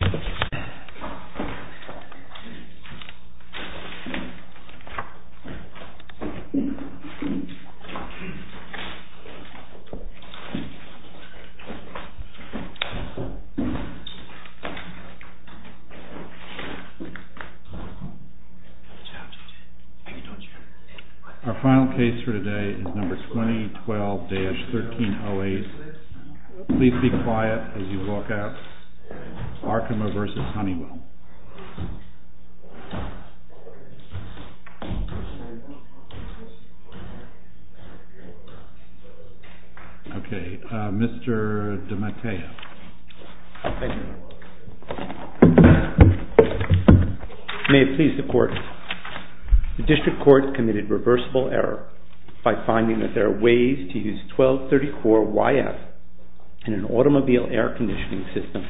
Our final case for today is number 2012-1308. Please be quiet as you walk out. ARKEMA v. HONEYWELL. Okay, Mr. DeMattea. Thank you. May it please the court, the district court committed reversible error by finding that there are ways to use 1234YF in an automobile air conditioning system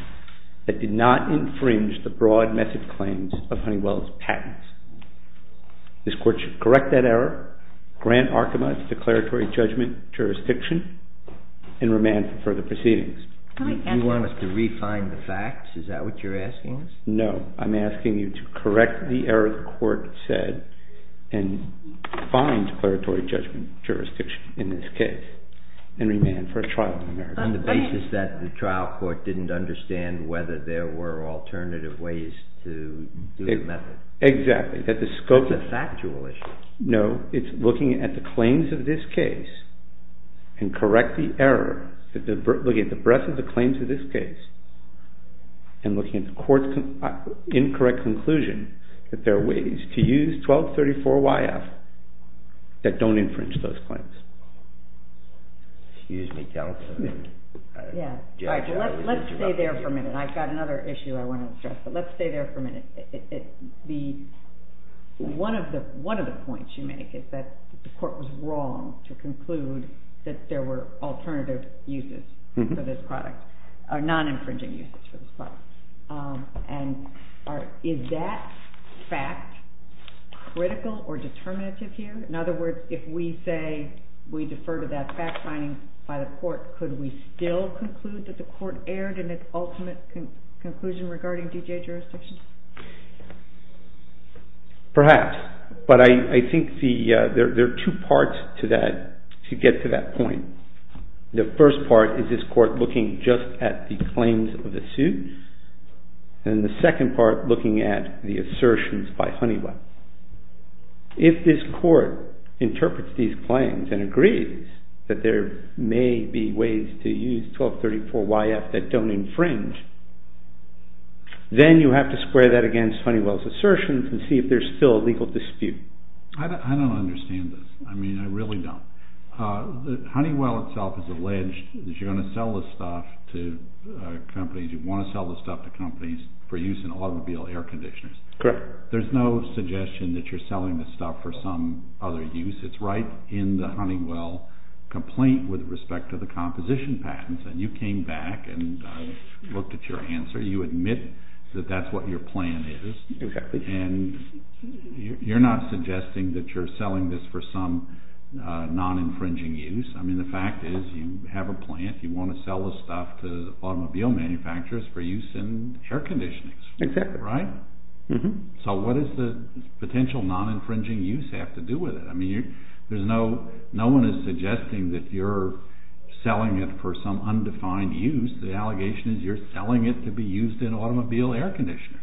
that did not infringe the broad message claims of Honeywell's patents. This court should correct that error, grant Arkema its declaratory judgment jurisdiction, and remand for further proceedings. Do you want us to re-find the facts? Is that what you're asking us? No, I'm asking you to correct the error the court said and find declaratory judgment jurisdiction in this case and remand for a trial in America. On the basis that the trial court didn't understand whether there were alternative ways to do the method? Exactly, that the scope of the factual issue. No, it's looking at the claims of this case and correct the error, looking at the breadth of the claims of this case and looking at the court's incorrect conclusion that there are ways to use 1234YF that don't infringe those claims. Let's stay there for a minute. I've got another issue I want to address, but let's stay there for a minute. One of the points you make is that the court was wrong to conclude that there were alternative uses for this product, or non-infringing uses for this product. Is that fact critical or determinative here? In other words, if we say we defer to that fact finding by the court, could we still conclude that the court erred in its ultimate conclusion regarding D.J. jurisdiction? Perhaps, but I think there are two parts to that, to get to that point. The first part is this court looking just at the claims of the suit, and the second part looking at the assertions by Honeywell. If this court interprets these claims and agrees that there may be ways to use 1234YF that don't infringe, then you have to square that against Honeywell's assertions and see if there's still a legal dispute. I don't understand this. I really don't. Honeywell itself has alleged that you're going to sell this stuff to companies, you want to sell this stuff to companies for use in automobile air conditioners. There's no suggestion that you're selling this stuff for some other use. It's right in the Honeywell complaint with respect to the composition patents, and you came back and looked at your answer. You admit that that's what your plan is, and you're not suggesting that you're selling this for some non-infringing use. The fact is you have a plan, you want to sell this stuff to automobile manufacturers for use in air conditioners. Exactly. Right? So what does the potential non-infringing use have to do with it? No one is suggesting that you're selling it for some undefined use. The allegation is you're selling it to be used in automobile air conditioners.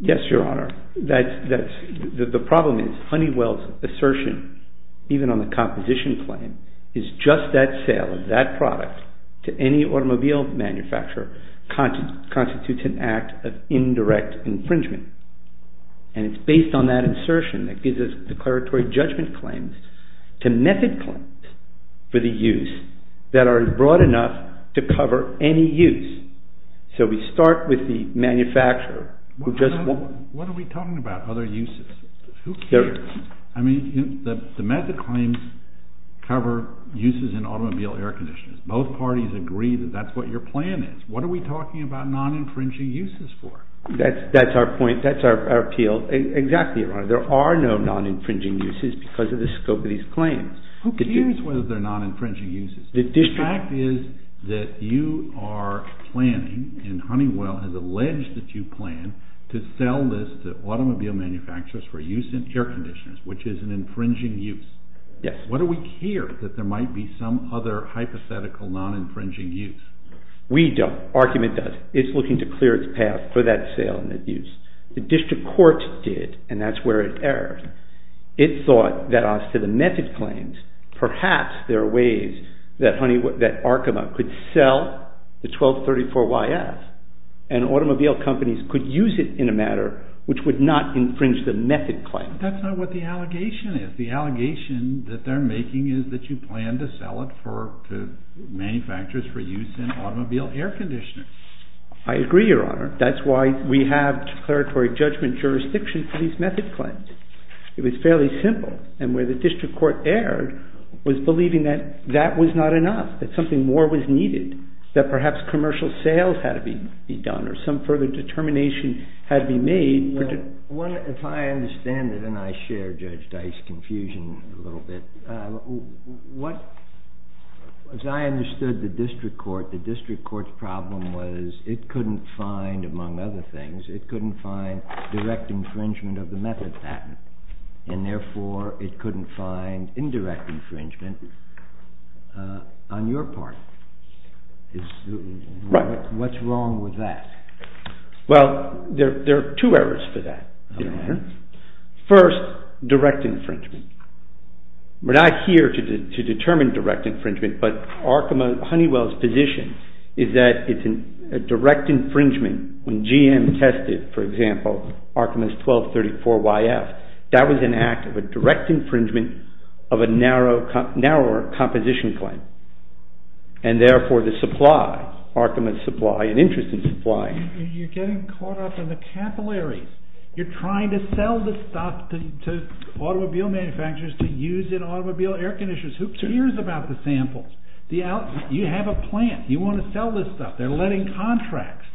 Yes, Your Honor. The problem is Honeywell's assertion, even on the composition claim, is just that sale of that product to any automobile manufacturer constitutes an act of indirect infringement. It's based on that assertion that gives us declaratory judgment claims to method claims for the use that are broad enough to cover any use. So we start with the manufacturer. What are we talking about? Other uses? Who cares? I mean, the method claims cover uses in automobile air conditioners. Both parties agree that that's what your plan is. What are we talking about non-infringing uses for? That's our point. That's our appeal. Exactly, Your Honor. There are no non-infringing uses because of the scope of these claims. Who cares whether they're non-infringing uses? The fact is that you are planning, and Honeywell has alleged that you plan, to sell this to automobile manufacturers for use in air conditioners, which is an infringing use. Yes. What do we care that there might be some other hypothetical non-infringing use? We don't. Argument does. It's looking to clear its path for that sale and that use. The district court did, and that's where it erred. It thought that as to the method claims, perhaps there and automobile companies could use it in a manner which would not infringe the method claims. But that's not what the allegation is. The allegation that they're making is that you plan to sell it to manufacturers for use in automobile air conditioners. I agree, Your Honor. That's why we have declaratory judgment jurisdiction for these method claims. It was fairly simple, and where the district court erred was believing that that was not enough, that something more was needed, that perhaps commercial sales had to be done or some further determination had to be made. If I understand it, and I share Judge Dice's confusion a little bit, as I understood the district court, the district court's problem was it couldn't find, among other things, it couldn't find direct infringement of the method patent, and therefore it couldn't find indirect infringement on your part. What's wrong with that? Well, there are two errors for that, Your Honor. First, direct infringement. We're not here to determine direct infringement, but Honeywell's position is that it's a direct infringement when GM tested, for example, Arkema's 1234YF, that was an act of a direct infringement of a narrower composition claim, and therefore the supply, Arkema's supply, an interest in supplying. You're getting caught up in the capillaries. You're trying to sell this stuff to automobile manufacturers to use in automobile air conditioners. Who cares about the samples? You have a plan. You want to sell this stuff. They're letting contracts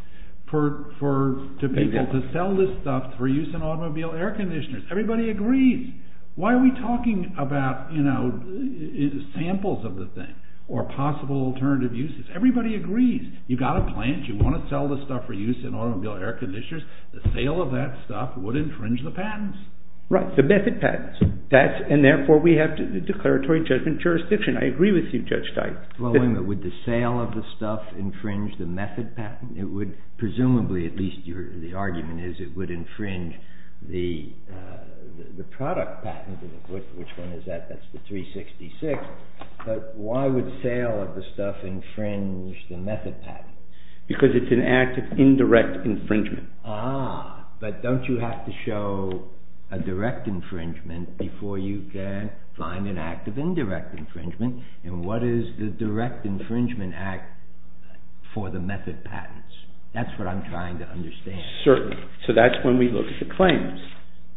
to people to sell this stuff for use in automobile air conditioners. Everybody agrees. Why are we talking about samples of the thing or possible alternative uses? Everybody agrees. You've got a plan. You want to sell this stuff for use in automobile air conditioners. The sale of that stuff would infringe the patents. Right, the method patents, and therefore we have the declaratory judgment jurisdiction. I agree with you, Judge Steist. Well, wait a minute. Would the sale of the stuff infringe the method patent? Presumably, at least the argument is it would infringe the product patent. Which one is that? That's the 366. Why would sale of the stuff infringe the method patent? Because it's an act of indirect infringement. Ah, but don't you have to show a direct infringement before you can find an act of indirect infringement? What is the direct infringement act for the method patents? That's what I'm trying to understand. Certainly. That's when we look at the claims.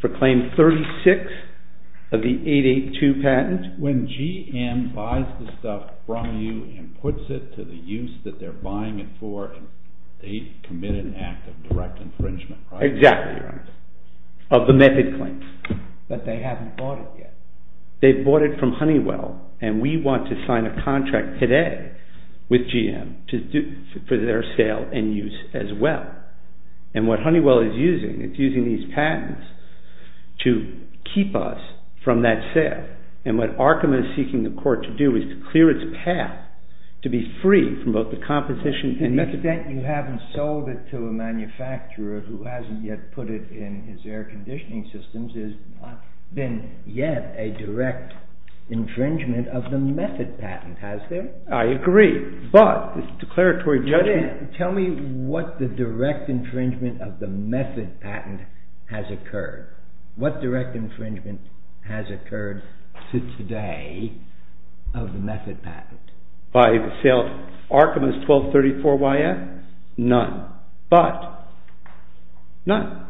For claim 36 of the 882 patent. When GM buys the stuff from you and puts it to the use that they're buying it for, they commit an act of direct infringement, right? Exactly, of the method claims. But they haven't bought it yet. They've bought it from Honeywell, and we want to sign a contract today with GM for their sale and use as well. And what Honeywell is using, it's using these patents to keep us from that sale. And what Arkema is seeking the court to do is to clear its path, to be free from both the composition and method. To the extent you haven't sold it to a manufacturer who hasn't yet put it in his air conditioning systems, there's not been yet a direct infringement of the method patent, has there? I agree, but the declaratory judgment... Tell me what the direct infringement of the method patent has occurred. What direct infringement has occurred to today of the method patent? By sale of Arkema's 1234YF? None. But, none.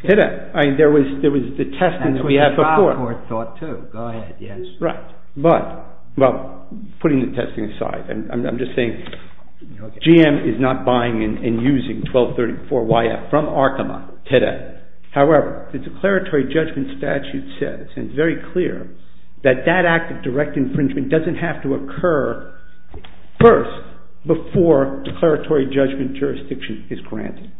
Hidden. There was no direct infringement of the 1234YF. There was the testing that we had before. That's what the trial court thought too. Go ahead, yes. Right. But, well, putting the testing aside, I'm just saying GM is not buying and using 1234YF from Arkema today. However, the declaratory judgment statute says, and it's very clear, that that act of direct infringement doesn't have to occur first before declaratory judgment jurisdiction is granted.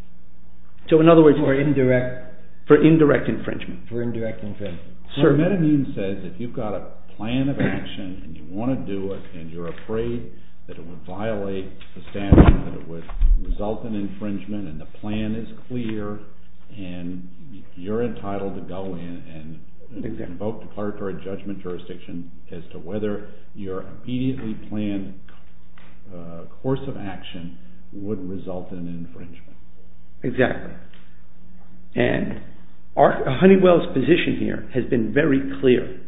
So in other words... For indirect... For indirect infringement. For indirect infringement. Sir? What it means is if you've got a plan of action, and you want to do it, and you're afraid that it would violate the statute, that it would result in infringement, and the plan is clear, and you're entitled to go in and invoke declaratory judgment jurisdiction as to whether your immediately planned course of action would result in infringement. Exactly. And Honeywell's position here has been very clear.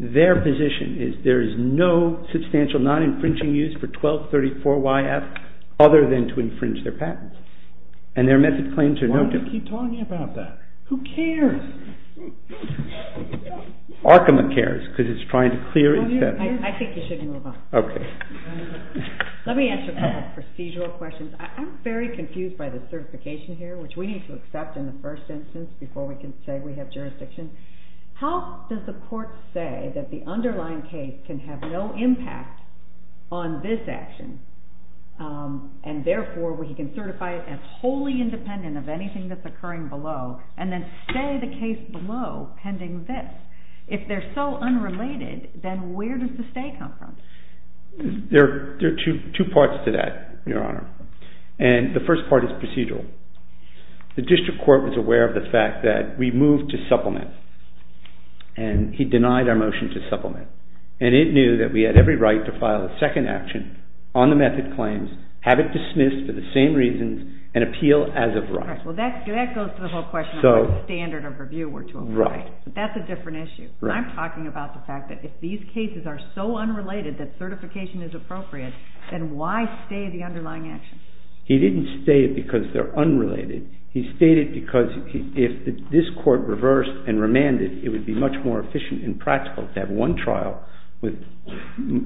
Their position is there is no substantial non-infringing use for 1234YF other than to infringe their patent. And their method claims are no different. Why do you keep talking about that? Who cares? Arkema cares, because it's trying to clear it. I think you should move on. Okay. Let me ask you a couple of procedural questions. I'm very confused by the certification here, which we need to accept in the first instance before we can say we have jurisdiction. How does the court say that the underlying case can have no impact on this action, and therefore we can certify it as wholly independent of anything that's occurring below, and then say the case below pending this? If they're so unrelated, then where does the stay come from? There are two parts to that, Your Honor. And the first part is procedural. The district court was aware of the fact that we moved to supplement, and he denied our motion to supplement. And it knew that we had every right to file a second action on the method claims, have it dismissed for the same reasons, and appeal as of right. Right. Well, that goes to the whole question of what standard of review we're to apply. Right. But that's a different issue. Right. And I'm talking about the fact that if these cases are so unrelated that certification is appropriate, then why stay the underlying action? He didn't stay it because they're unrelated. He stayed it because if this court reversed and remanded, it would be much more efficient and practical to have one trial with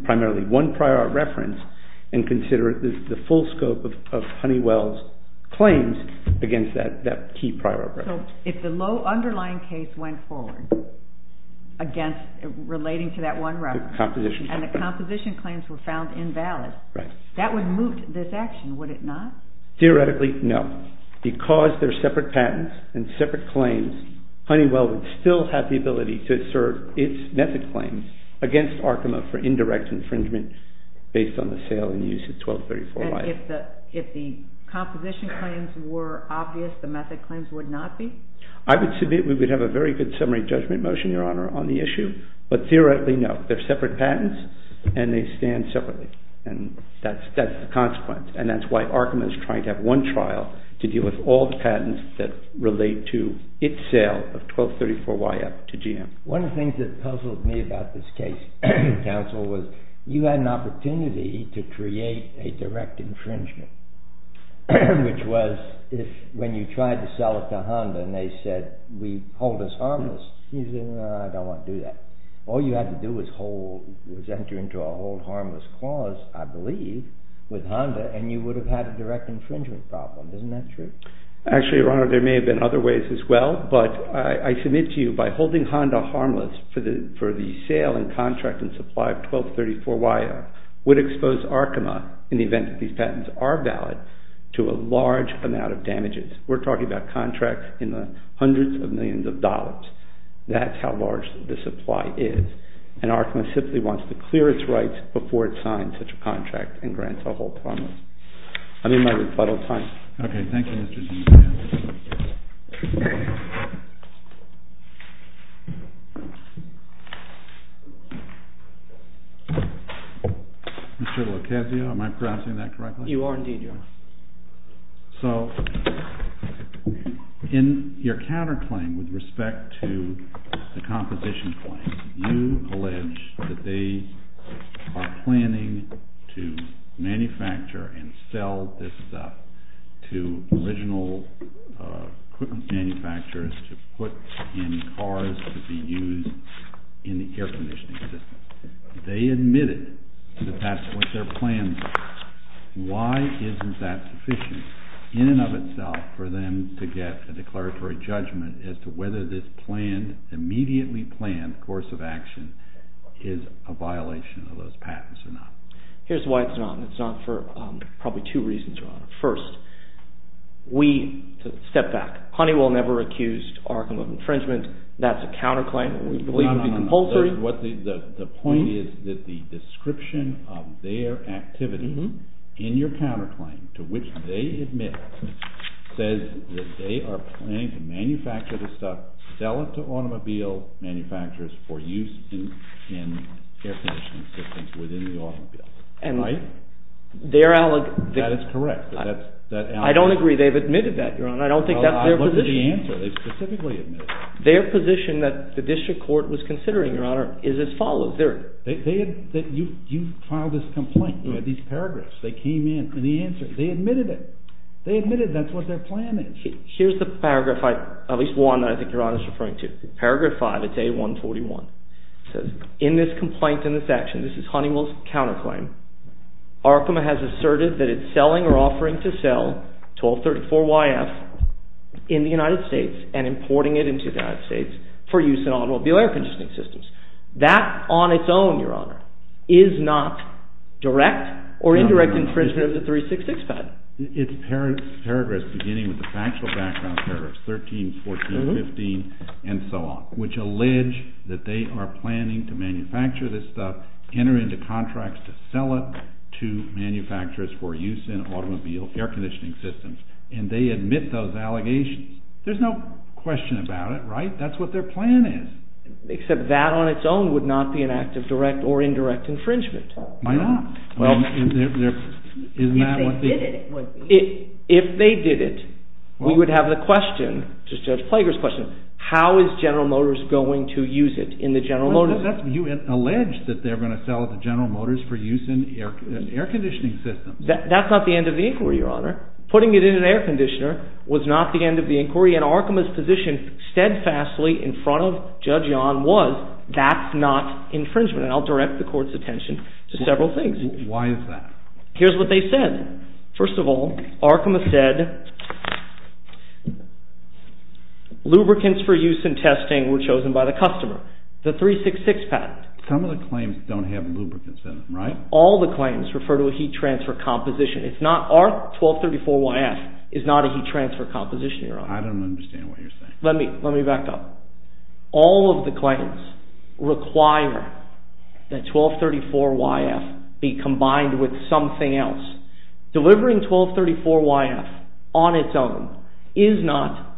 primarily one prior reference, and consider the full scope of Honeywell's claims against that key prior reference. So, if the low underlying case went forward against, relating to that one reference. Composition. And the composition claims were found invalid. Right. That would move this action, would it not? Theoretically, no. Because they're separate patents and separate claims, Honeywell would still have the ability to assert its method claims against Arkema for indirect infringement based on the sale and use of 1234-Y. And if the composition claims were obvious, the method claims would not be? I would submit we would have a very good summary judgment motion, Your Honor, on the issue. But theoretically, no. They're separate patents and they stand separately. And that's the consequence. And that's why Arkema is trying to have one trial to deal with all the patents that relate to its sale of 1234-Y up to GM. One of the things that puzzled me about this case, counsel, was you had an opportunity to create a direct infringement, which was if, when you tried to sell it to Honda and they said, we, hold us harmless, you said, no, I don't want to do that. All you had to do was hold, was enter into a hold harmless clause, I believe, with Honda, and you would have had a direct infringement problem. Isn't that true? Actually, Your Honor, there may have been other ways as well, but I submit to you by holding Honda harmless for the sale and contract and supply of 1234-Y up would expose Arkema, in the event that these patents are valid, to a large amount of damages. We're talking about contracts in the hundreds of millions of dollars. That's how large the supply is. And Arkema simply wants to clear its rights before it signs such a contract and grants a hold harmless. I'm in my rebuttal time. Okay, thank you, Mr. Sinclair. Mr. Locasio, am I pronouncing that correctly? You are, indeed, Your Honor. So, in your counterclaim with respect to the composition claim, you allege that they are going to manufacture and sell this stuff to original manufacturers to put in cars to be used in the air conditioning system. They admitted that that's what their plans are. Why isn't that sufficient, in and of itself, for them to get a declaratory judgment as to whether this planned, immediately planned course of action is a violation of those patents or not? Here's why it's not. It's not for probably two reasons, Your Honor. First, step back. Honeywell never accused Arkema of infringement. That's a counterclaim. We believe it would be compulsory. No, no, no. The point is that the description of their activity in your counterclaim to which they admit says that they are planning to manufacture this stuff, sell it to automobile manufacturers for use in air conditioning systems within the automobile. Right? That is correct. I don't agree. They've admitted that, Your Honor. I don't think that's their position. I looked at the answer. They specifically admitted it. Their position that the district court was considering, Your Honor, is as follows. You filed this complaint. You had these paragraphs. They came in, and the answer, they admitted it. They admitted that's what their plan is. Here's the paragraph, at least one that I think Your Honor is referring to. Paragraph five, it's A141. It says, In this complaint and this action, this is Honeywell's counterclaim, Arkema has asserted that it's selling or offering to sell 1234YF in the United States and importing it into the United States for use in automobile air conditioning systems. That on its own, Your Honor, is not direct or indirect infringement of the 366 patent. It's paragraphs beginning with the factual background paragraphs 13, 14, 15, and so on, which allege that they are planning to manufacture this stuff, enter into contracts to sell it to manufacturers for use in automobile air conditioning systems. And they admit those allegations. There's no question about it, right? That's what their plan is. Except that on its own would not be an act of direct or indirect infringement. Why not? If they did it, we would have the question, Judge Plager's question, how is General Motors going to use it in the General Motors? You allege that they're going to sell it to General Motors for use in air conditioning systems. That's not the end of the inquiry, Your Honor. Putting it in an air conditioner was not the end of the inquiry. And Arkema's position steadfastly in front of Judge Yon was that's not infringement. And I'll direct the court's attention to several things. Why is that? Here's what they said. First of all, Arkema said lubricants for use in testing were chosen by the customer. The 366 patent. Some of the claims don't have lubricants in them, right? All the claims refer to a heat transfer composition. It's not our 1234YF is not a heat transfer composition, Your Honor. I don't understand what you're saying. Let me back up. All of the claims require that 1234YF be combined with something else. Delivering 1234YF on its own is not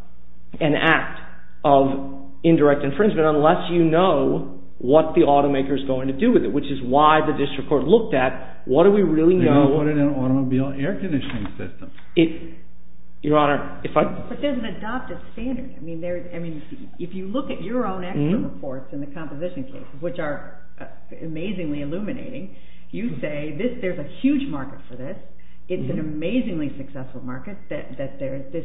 an act of indirect infringement unless you know what the automaker's going to do with it, which is why the district court looked at what do we really know. They're going to put it in an automobile air conditioning system. But there's an adopted standard. If you look at your own expert reports in the composition case, which are amazingly illuminating, you say there's a huge market for this. It's an amazingly successful market. This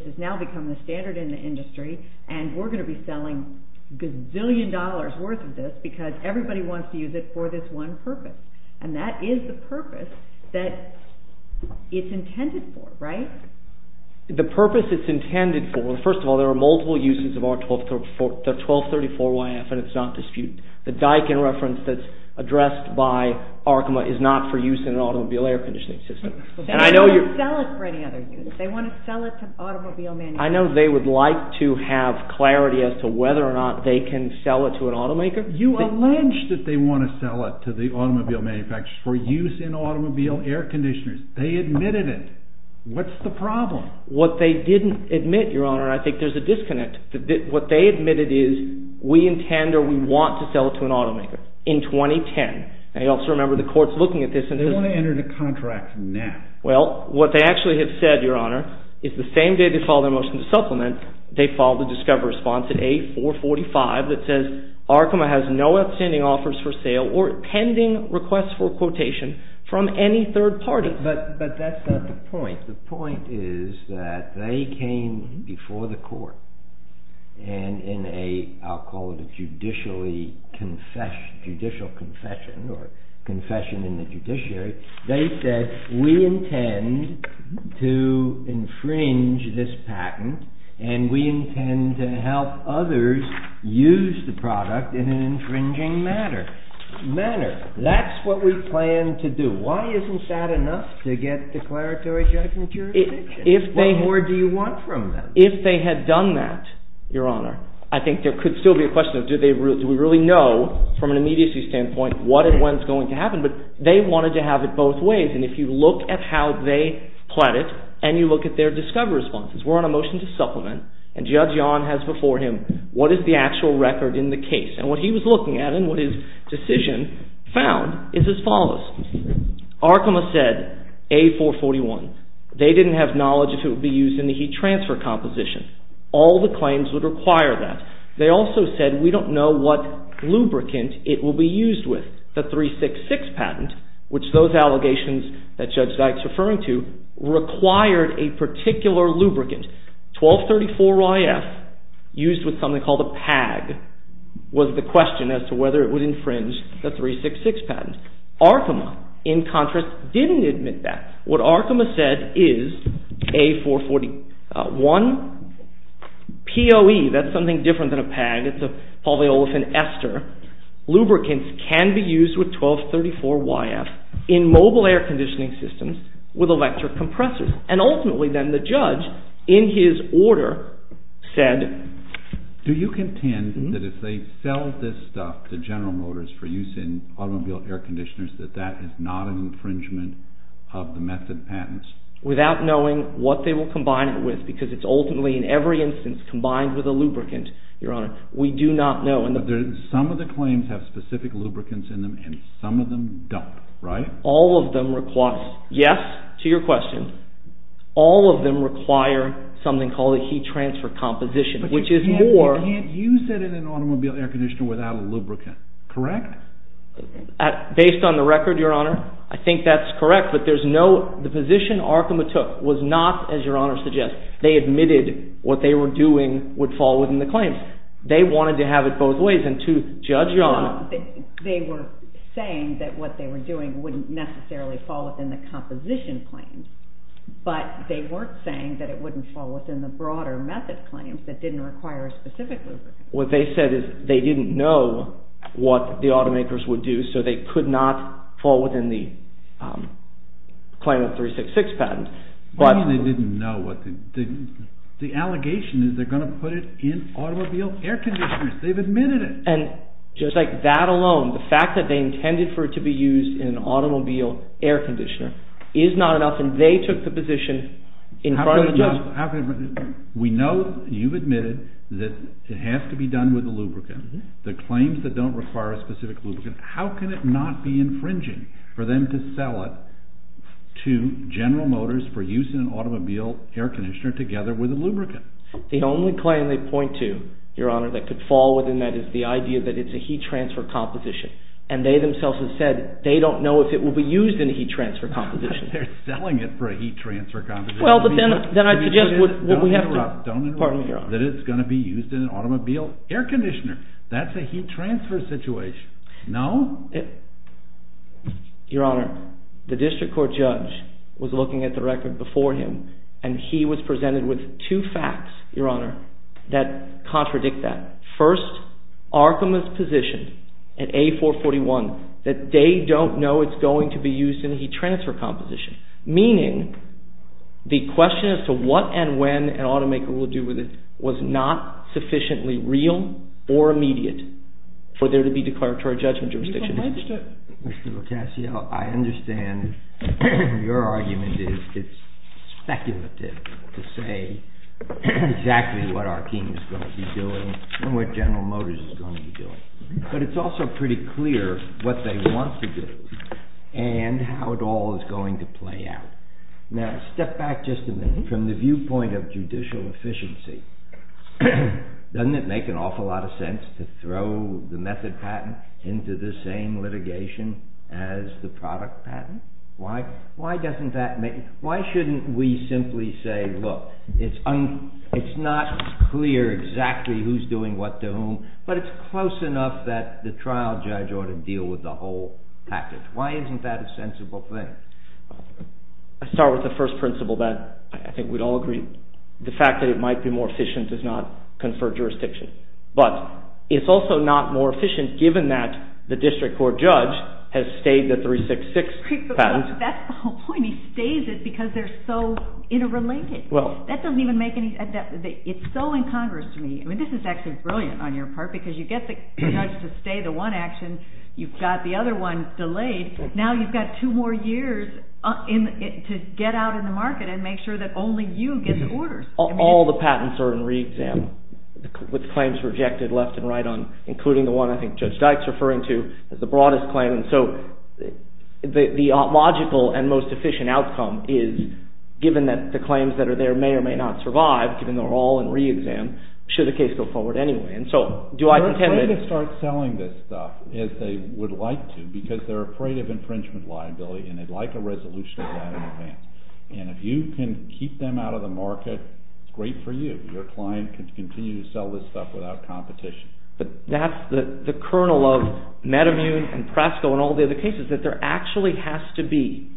has now become the standard in the industry, and we're going to be selling a gazillion dollars worth of this because everybody wants to use it for this one purpose, and that is the purpose that it's intended for, right? The purpose it's intended for, first of all, there are multiple uses of our 1234YF, and it's not disputed. The Daikin reference that's addressed by Arkema is not for use in an automobile air conditioning system. They don't want to sell it for any other use. They want to sell it to automobile manufacturers. I know they would like to have clarity as to whether or not they can sell it to an automaker. You allege that they want to sell it to the automobile manufacturers for use in automobile air conditioners. They admitted it. What's the problem? What they didn't admit, Your Honor, I think there's a disconnect. What they admitted is we intend or we want to sell it to an automaker in 2010. Now you also remember the court's looking at this. They want to enter the contract now. Well, what they actually have said, Your Honor, is the same day they filed their motion to for sale or pending requests for quotation from any third party. But that's not the point. The point is that they came before the court and in a, I'll call it a judicial confession or confession in the judiciary, they said we intend to infringe this patent and we intend to help others use the product in an infringing manner. That's what we plan to do. Why isn't that enough to get declaratory judgment jurisdiction? What more do you want from them? If they had done that, Your Honor, I think there could still be a question of do we really know from an immediacy standpoint what and when is going to happen. But they wanted to have it both ways. And if you look at how they plan it and you look at their discovery responses, we're on a motion to supplement and Judge Yon has before him what is the actual record in the case. And what he was looking at and what his decision found is as follows. Arkema said A441, they didn't have knowledge if it would be used in the heat transfer composition. All the claims would require that. They also said we don't know what lubricant it will be used with. The 366 patent, which those allegations that Judge Dykes is referring to, required a particular lubricant. 1234YF used with something called a PAG was the question as to whether it would infringe the 366 patent. Arkema, in contrast, didn't admit that. What Arkema said is A441, POE, that's something different than a PAG. It's a polyolefin ester. Lubricants can be used with 1234YF in mobile air conditioning systems with electric compressors. And ultimately then the judge, in his order, said... Do you contend that if they sell this stuff to General Motors for use in automobile air conditioners that that is not an infringement of the method patents? Without knowing what they will combine it with because it's ultimately in every instance combined with a lubricant, Your Honor, we do not know. But some of the claims have specific lubricants in them and some of them don't, right? All of them require... Yes, to your question. All of them require something called a heat transfer composition, which is more... But you can't use that in an automobile air conditioner without a lubricant, correct? Based on the record, Your Honor, I think that's correct, but there's no... The position Arkema took was not, as Your Honor suggests, they admitted what they were doing would fall within the claims. They wanted to have it both ways and to judge, Your Honor... They were saying that what they were doing wouldn't necessarily fall within the composition claims, but they weren't saying that it wouldn't fall within the broader method claims that didn't require a specific lubricant. What they said is they didn't know what the automakers would do so they could not fall within the claim of 366 patent. What do you mean they didn't know? The allegation is they're going to put it in automobile air conditioners. They've admitted it. And just like that alone, the fact that they intended for it to be used in an automobile air conditioner is not enough and they took the position in front of the judge. We know you've admitted that it has to be done with a lubricant. The claims that don't require a specific lubricant, how can it not be infringing for them to sell it to General Motors for use in an automobile air conditioner together with a lubricant? The only claim they point to, Your Honor, that could fall within that is the idea that it's a heat transfer composition. And they themselves have said they don't know if it will be used in a heat transfer composition. They're selling it for a heat transfer composition. Well, but then I suggest what we have... Don't interrupt. Don't interrupt. Pardon me, Your Honor. That it's going to be used in an automobile air conditioner. That's a heat transfer situation. No? Your Honor, the district court judge was looking at the record before him and he was presented with two facts, Your Honor, that contradict that. First, Arkema's position at A441 that they don't know it's going to be used in a heat transfer composition. Meaning, the question as to what and when an automaker will do with it was not sufficiently real or immediate for there to be declaratory judgment jurisdictions. Mr. Lucasio, I understand your argument is it's speculative to say exactly what Arkema is going to be doing and what General Motors is going to be doing. But it's also pretty clear what they want to do and how it all is going to play out. Now, step back just a minute from the viewpoint of judicial efficiency. Doesn't it make an awful lot of sense to throw the method patent into the same litigation as the product patent? Why shouldn't we simply say, look, it's not clear exactly who's doing what to whom, but it's close enough that the trial judge ought to deal with the whole package. Why isn't that a sensible thing? I'll start with the first principle that I think we'd all agree. The fact that it might be more efficient does not confer jurisdiction. But it's also not more efficient given that the district court judge has stayed the 366 patent. That's the whole point. He stays it because they're so interrelated. That doesn't even make any sense. It's so incongruous to me. I mean, this is actually brilliant on your part because you get the judge to stay the one action. You've got the other one delayed. Now you've got two more years to get out in the market and make sure that only you get the orders. All the patents are in re-exam, with claims rejected left and right, including the one I think Judge Dyke's referring to as the broadest claim. And so the logical and most efficient outcome is, given that the claims that are there may or may not survive, given they're all in re-exam, should the case go forward anyway. And so do I contend with it? They can start selling this stuff as they would like to because they're afraid of infringement liability and they'd like a resolution of that in advance. And if you can keep them out of the market, great for you. Your client can continue to sell this stuff without competition. But that's the kernel of Metamune and Presco and all the other cases, that there actually has to be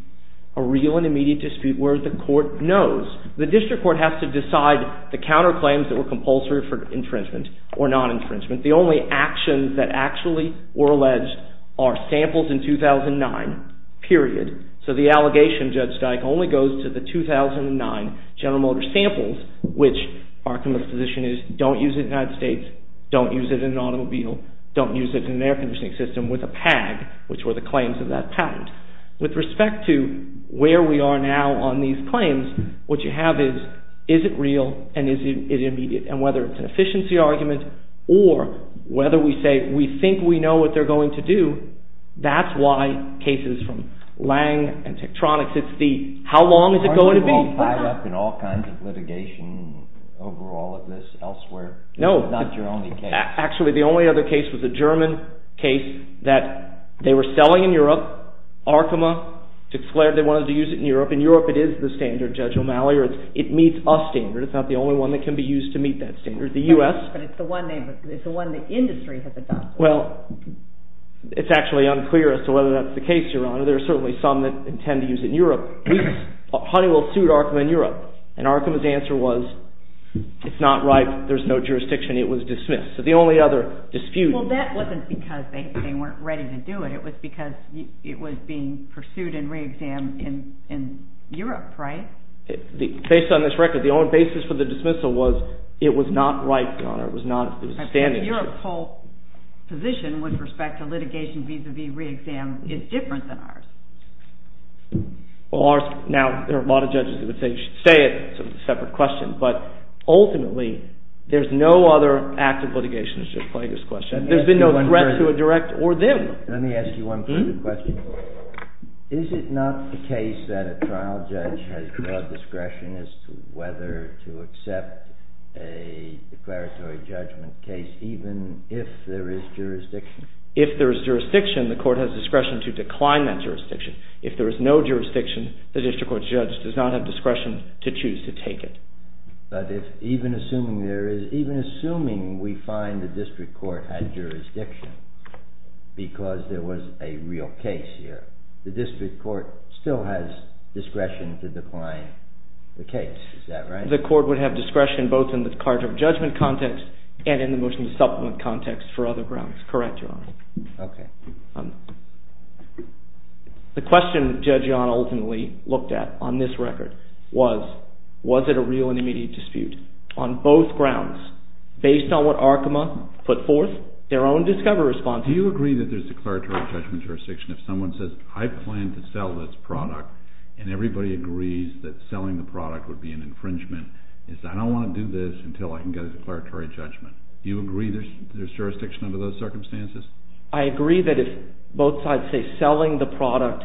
a real and immediate dispute where the court knows. The district court has to decide the counterclaims that were compulsory for infringement or non-infringement. The only actions that actually were alleged are samples in 2009, period. So the allegation, Judge Dyke, only goes to the 2009 General Motors samples, which our position is, don't use it in the United States, don't use it in an automobile, don't use it in an air conditioning system with a PAG, which were the claims of that patent. With respect to where we are now on these claims, what you have is, is it real and is it immediate? And whether it's an efficiency argument or whether we say we think we know what they're going to do, that's why cases from Lange and Tektronix, it's the, how long is it going to be? Are they all tied up in all kinds of litigation over all of this elsewhere? No. Not your only case. Actually, the only other case was a German case that they were selling in Europe, Arkema, declared they wanted to use it in Europe. In Europe it is the standard, Judge O'Malley, or it meets a standard. It's not the only one that can be used to meet that standard. The U.S. But it's the one they, it's the one the industry has adopted. Well, it's actually unclear as to whether that's the case, Your Honor. There are certainly some that intend to use it in Europe. We, Honeywell sued Arkema in Europe, and Arkema's answer was, it's not right, there's no jurisdiction, it was dismissed. So the only other dispute... Well, that wasn't because they weren't ready to do it. It was because it was being pursued and reexamined in Europe, right? Based on this record, the only basis for the dismissal was, it was not right, Your Honor. It was not, it was a standard issue. I presume your whole position with respect to litigation vis-à-vis reexam is different than ours. Well, ours, now, there are a lot of judges that would say, you should stay, it's a separate question. But, ultimately, there's no other act of litigation that should play this question. There's been no threat to a direct or them. Let me ask you one question. Is it not the case that a trial judge has discretion as to whether to accept a declaratory judgment case, even if there is jurisdiction? If there is jurisdiction, the court has discretion to decline that jurisdiction. If there is no jurisdiction, the district court judge does not have discretion to choose to take it. But, even assuming we find the district court has jurisdiction, because there was a real case here, the district court still has discretion to decline the case. Is that right? The court would have discretion both in the charge of judgment context and in the motion to supplement context for other grounds. Correct, Your Honor. Okay. The question Judge John ultimately looked at on this record was, was it a real and immediate dispute? On both grounds, based on what Arkema put forth, their own discovery response. Do you agree that there's declaratory judgment jurisdiction if someone says, I plan to sell this product, and everybody agrees that selling the product would be an infringement, and says, I don't want to do this until I can get a declaratory judgment. Do you agree there's jurisdiction under those circumstances? I agree that if both sides say selling the product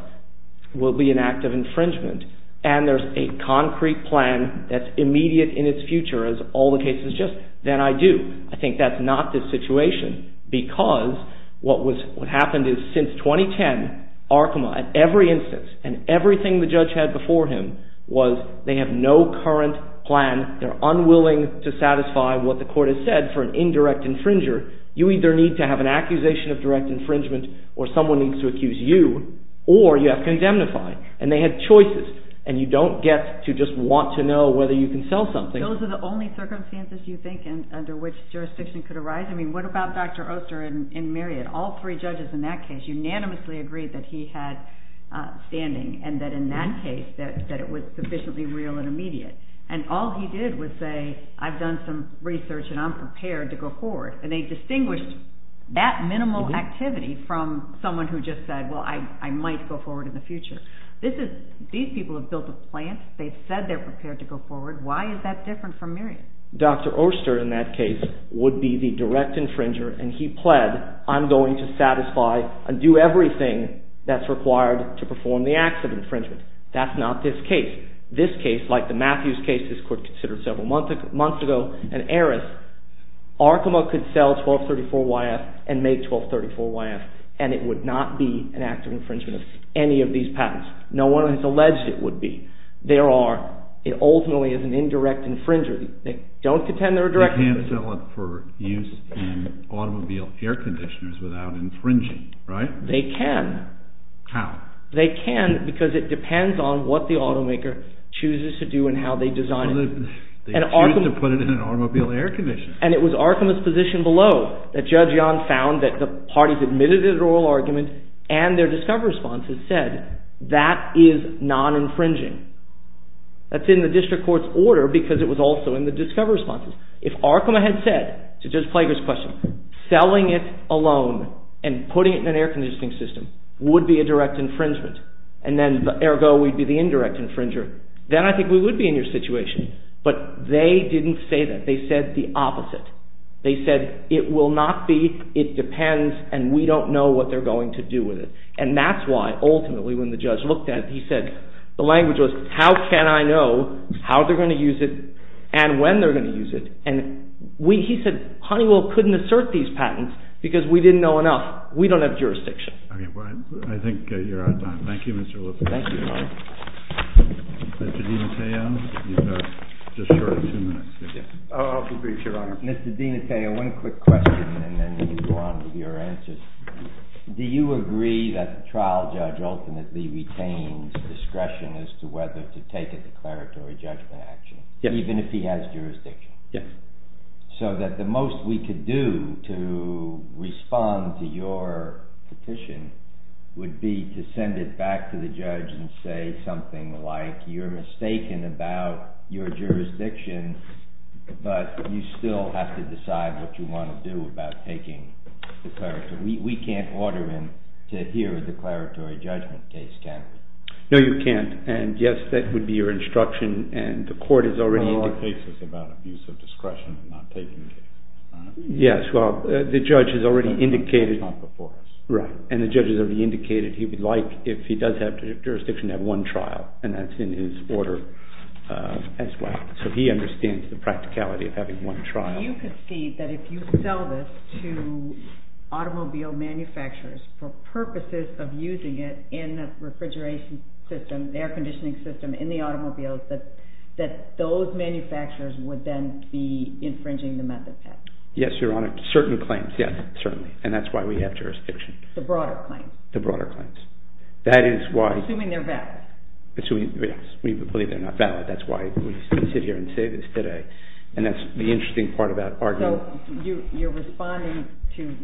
would be an act of infringement, and there's a concrete plan that's immediate in its future, as all the cases suggest, then I do. I think that's not the situation, because what happened is, since 2010, Arkema, at every instance, and everything the judge had before him, was they have no current plan. They're unwilling to satisfy what the court has said for an indirect infringer. You either need to have an accusation of direct infringement, or someone needs to accuse you, or you have to indemnify. And they had choices, and you don't get to just want to know whether you can sell something. Those are the only circumstances you think under which jurisdiction could arise? I mean, what about Dr. Oster and Marriott? All three judges in that case unanimously agreed that he had standing, and that in that case, that it was sufficiently real and immediate. And all he did was say, I've done some research, and I'm prepared to go forward. And they distinguished that minimal activity from someone who just said, well, I might go forward in the future. These people have built a plan. They've said they're prepared to go forward. Why is that different from Marriott? Dr. Oster, in that case, would be the direct infringer, and he pled, I'm going to satisfy and do everything that's required to perform the acts of infringement. That's not this case. This case, like the Matthews case this court considered several months ago, and Aris, Arkema could sell 1234YF and make 1234YF, and it would not be an act of infringement of any of these patents. No one has alleged it would be. There are. It ultimately is an indirect infringer. They don't contend they're a direct infringer. They can't sell it for use in automobile air conditioners without infringing, right? They can. How? They can because it depends on what the automaker chooses to do and how they design it. They choose to put it in an automobile air conditioner. And it was Arkema's position below that Judge Young found that the parties admitted to their oral argument and their discovery responses said that is non-infringing. That's in the district court's order because it was also in the discovery responses. If Arkema had said, to Judge Plager's question, selling it alone and putting it in an air conditioning system would be a direct infringement, and then ergo we'd be the indirect infringer, then I think we would be in your situation. But they didn't say that. They said the opposite. They said it will not be, it depends, and we don't know what they're going to do with it. And that's why, ultimately, when the judge looked at it, he said, the language was, how can I know how they're going to use it and when they're going to use it? And he said, Honeywell couldn't assert these patents because we didn't know enough. We don't have jurisdiction. I think you're out of time. Thank you, Mr. Lippert. Thank you, Your Honor. Mr. DiMatteo, you've got just shortly two minutes. I'll be brief, Your Honor. Mr. DiMatteo, one quick question and then we'll go on to your answers. Do you agree that the trial judge ultimately retains discretion as to whether to take a declaratory judgment action even if he has jurisdiction? Yes. So that the most we could do to respond to your petition would be to send it back to the judge and say something like, you're mistaken about your jurisdiction, but you still have to decide what you want to do about taking the declaratory. We can't order him to hear a declaratory judgment case, can we? No, you can't. And yes, that would be your instruction and the court has already indicated. Well, our case is about abuse of discretion and not taking the case. Yes. Well, the judge has already indicated. It's not before us. Right. And the judge has already indicated he would like, if he does have jurisdiction, to have one trial. And that's in his order as well. So he understands the practicality of having one trial. So you concede that if you sell this to automobile manufacturers for purposes of using it in the refrigeration system, the air conditioning system, in the automobiles, that those manufacturers would then be infringing the method package? Yes, Your Honor. Certain claims, yes. Certainly. And that's why we have jurisdiction. The broader claims. The broader claims. Assuming they're valid. We believe they're not valid. That's why we sit here and say this today. And that's the interesting part about argument. So you're responding to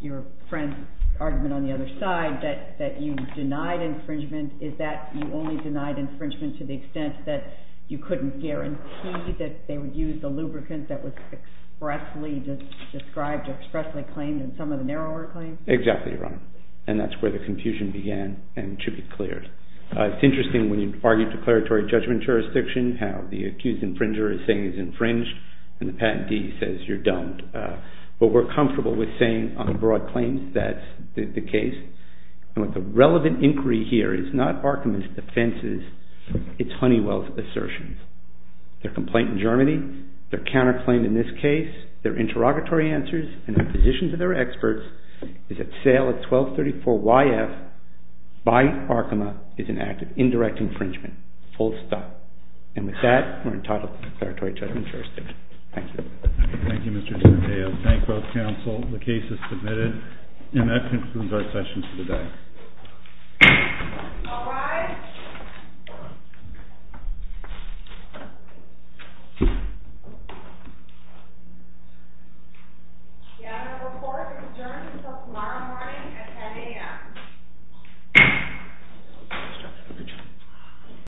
your friend's argument on the other side that you denied infringement. Is that you only denied infringement to the extent that you couldn't guarantee that they would use the lubricant that was expressly described, expressly claimed in some of the narrower claims? Exactly, Your Honor. And that's where the confusion began and should be cleared. It's interesting when you argue declaratory judgment jurisdiction, how the accused infringer is saying he's infringed and the patentee says you're dumbed. But we're comfortable with saying on the broad claims that's the case. And with the relevant inquiry here, it's not Arkema's defenses, it's Honeywell's assertions. Their complaint in Germany, their counterclaim in this case, their interrogatory answers, and their position to their experts is at sale at 1234YF by Arkema is an act of indirect infringement. Full stop. And with that, we're entitled to declaratory judgment jurisdiction. Thank you. Thank you, Mr. DeMatteo. Thank both counsel. The case is submitted. And that concludes our session for today. All rise. Thank you. Your Honor, the court is adjourned until tomorrow morning at 10 a.m.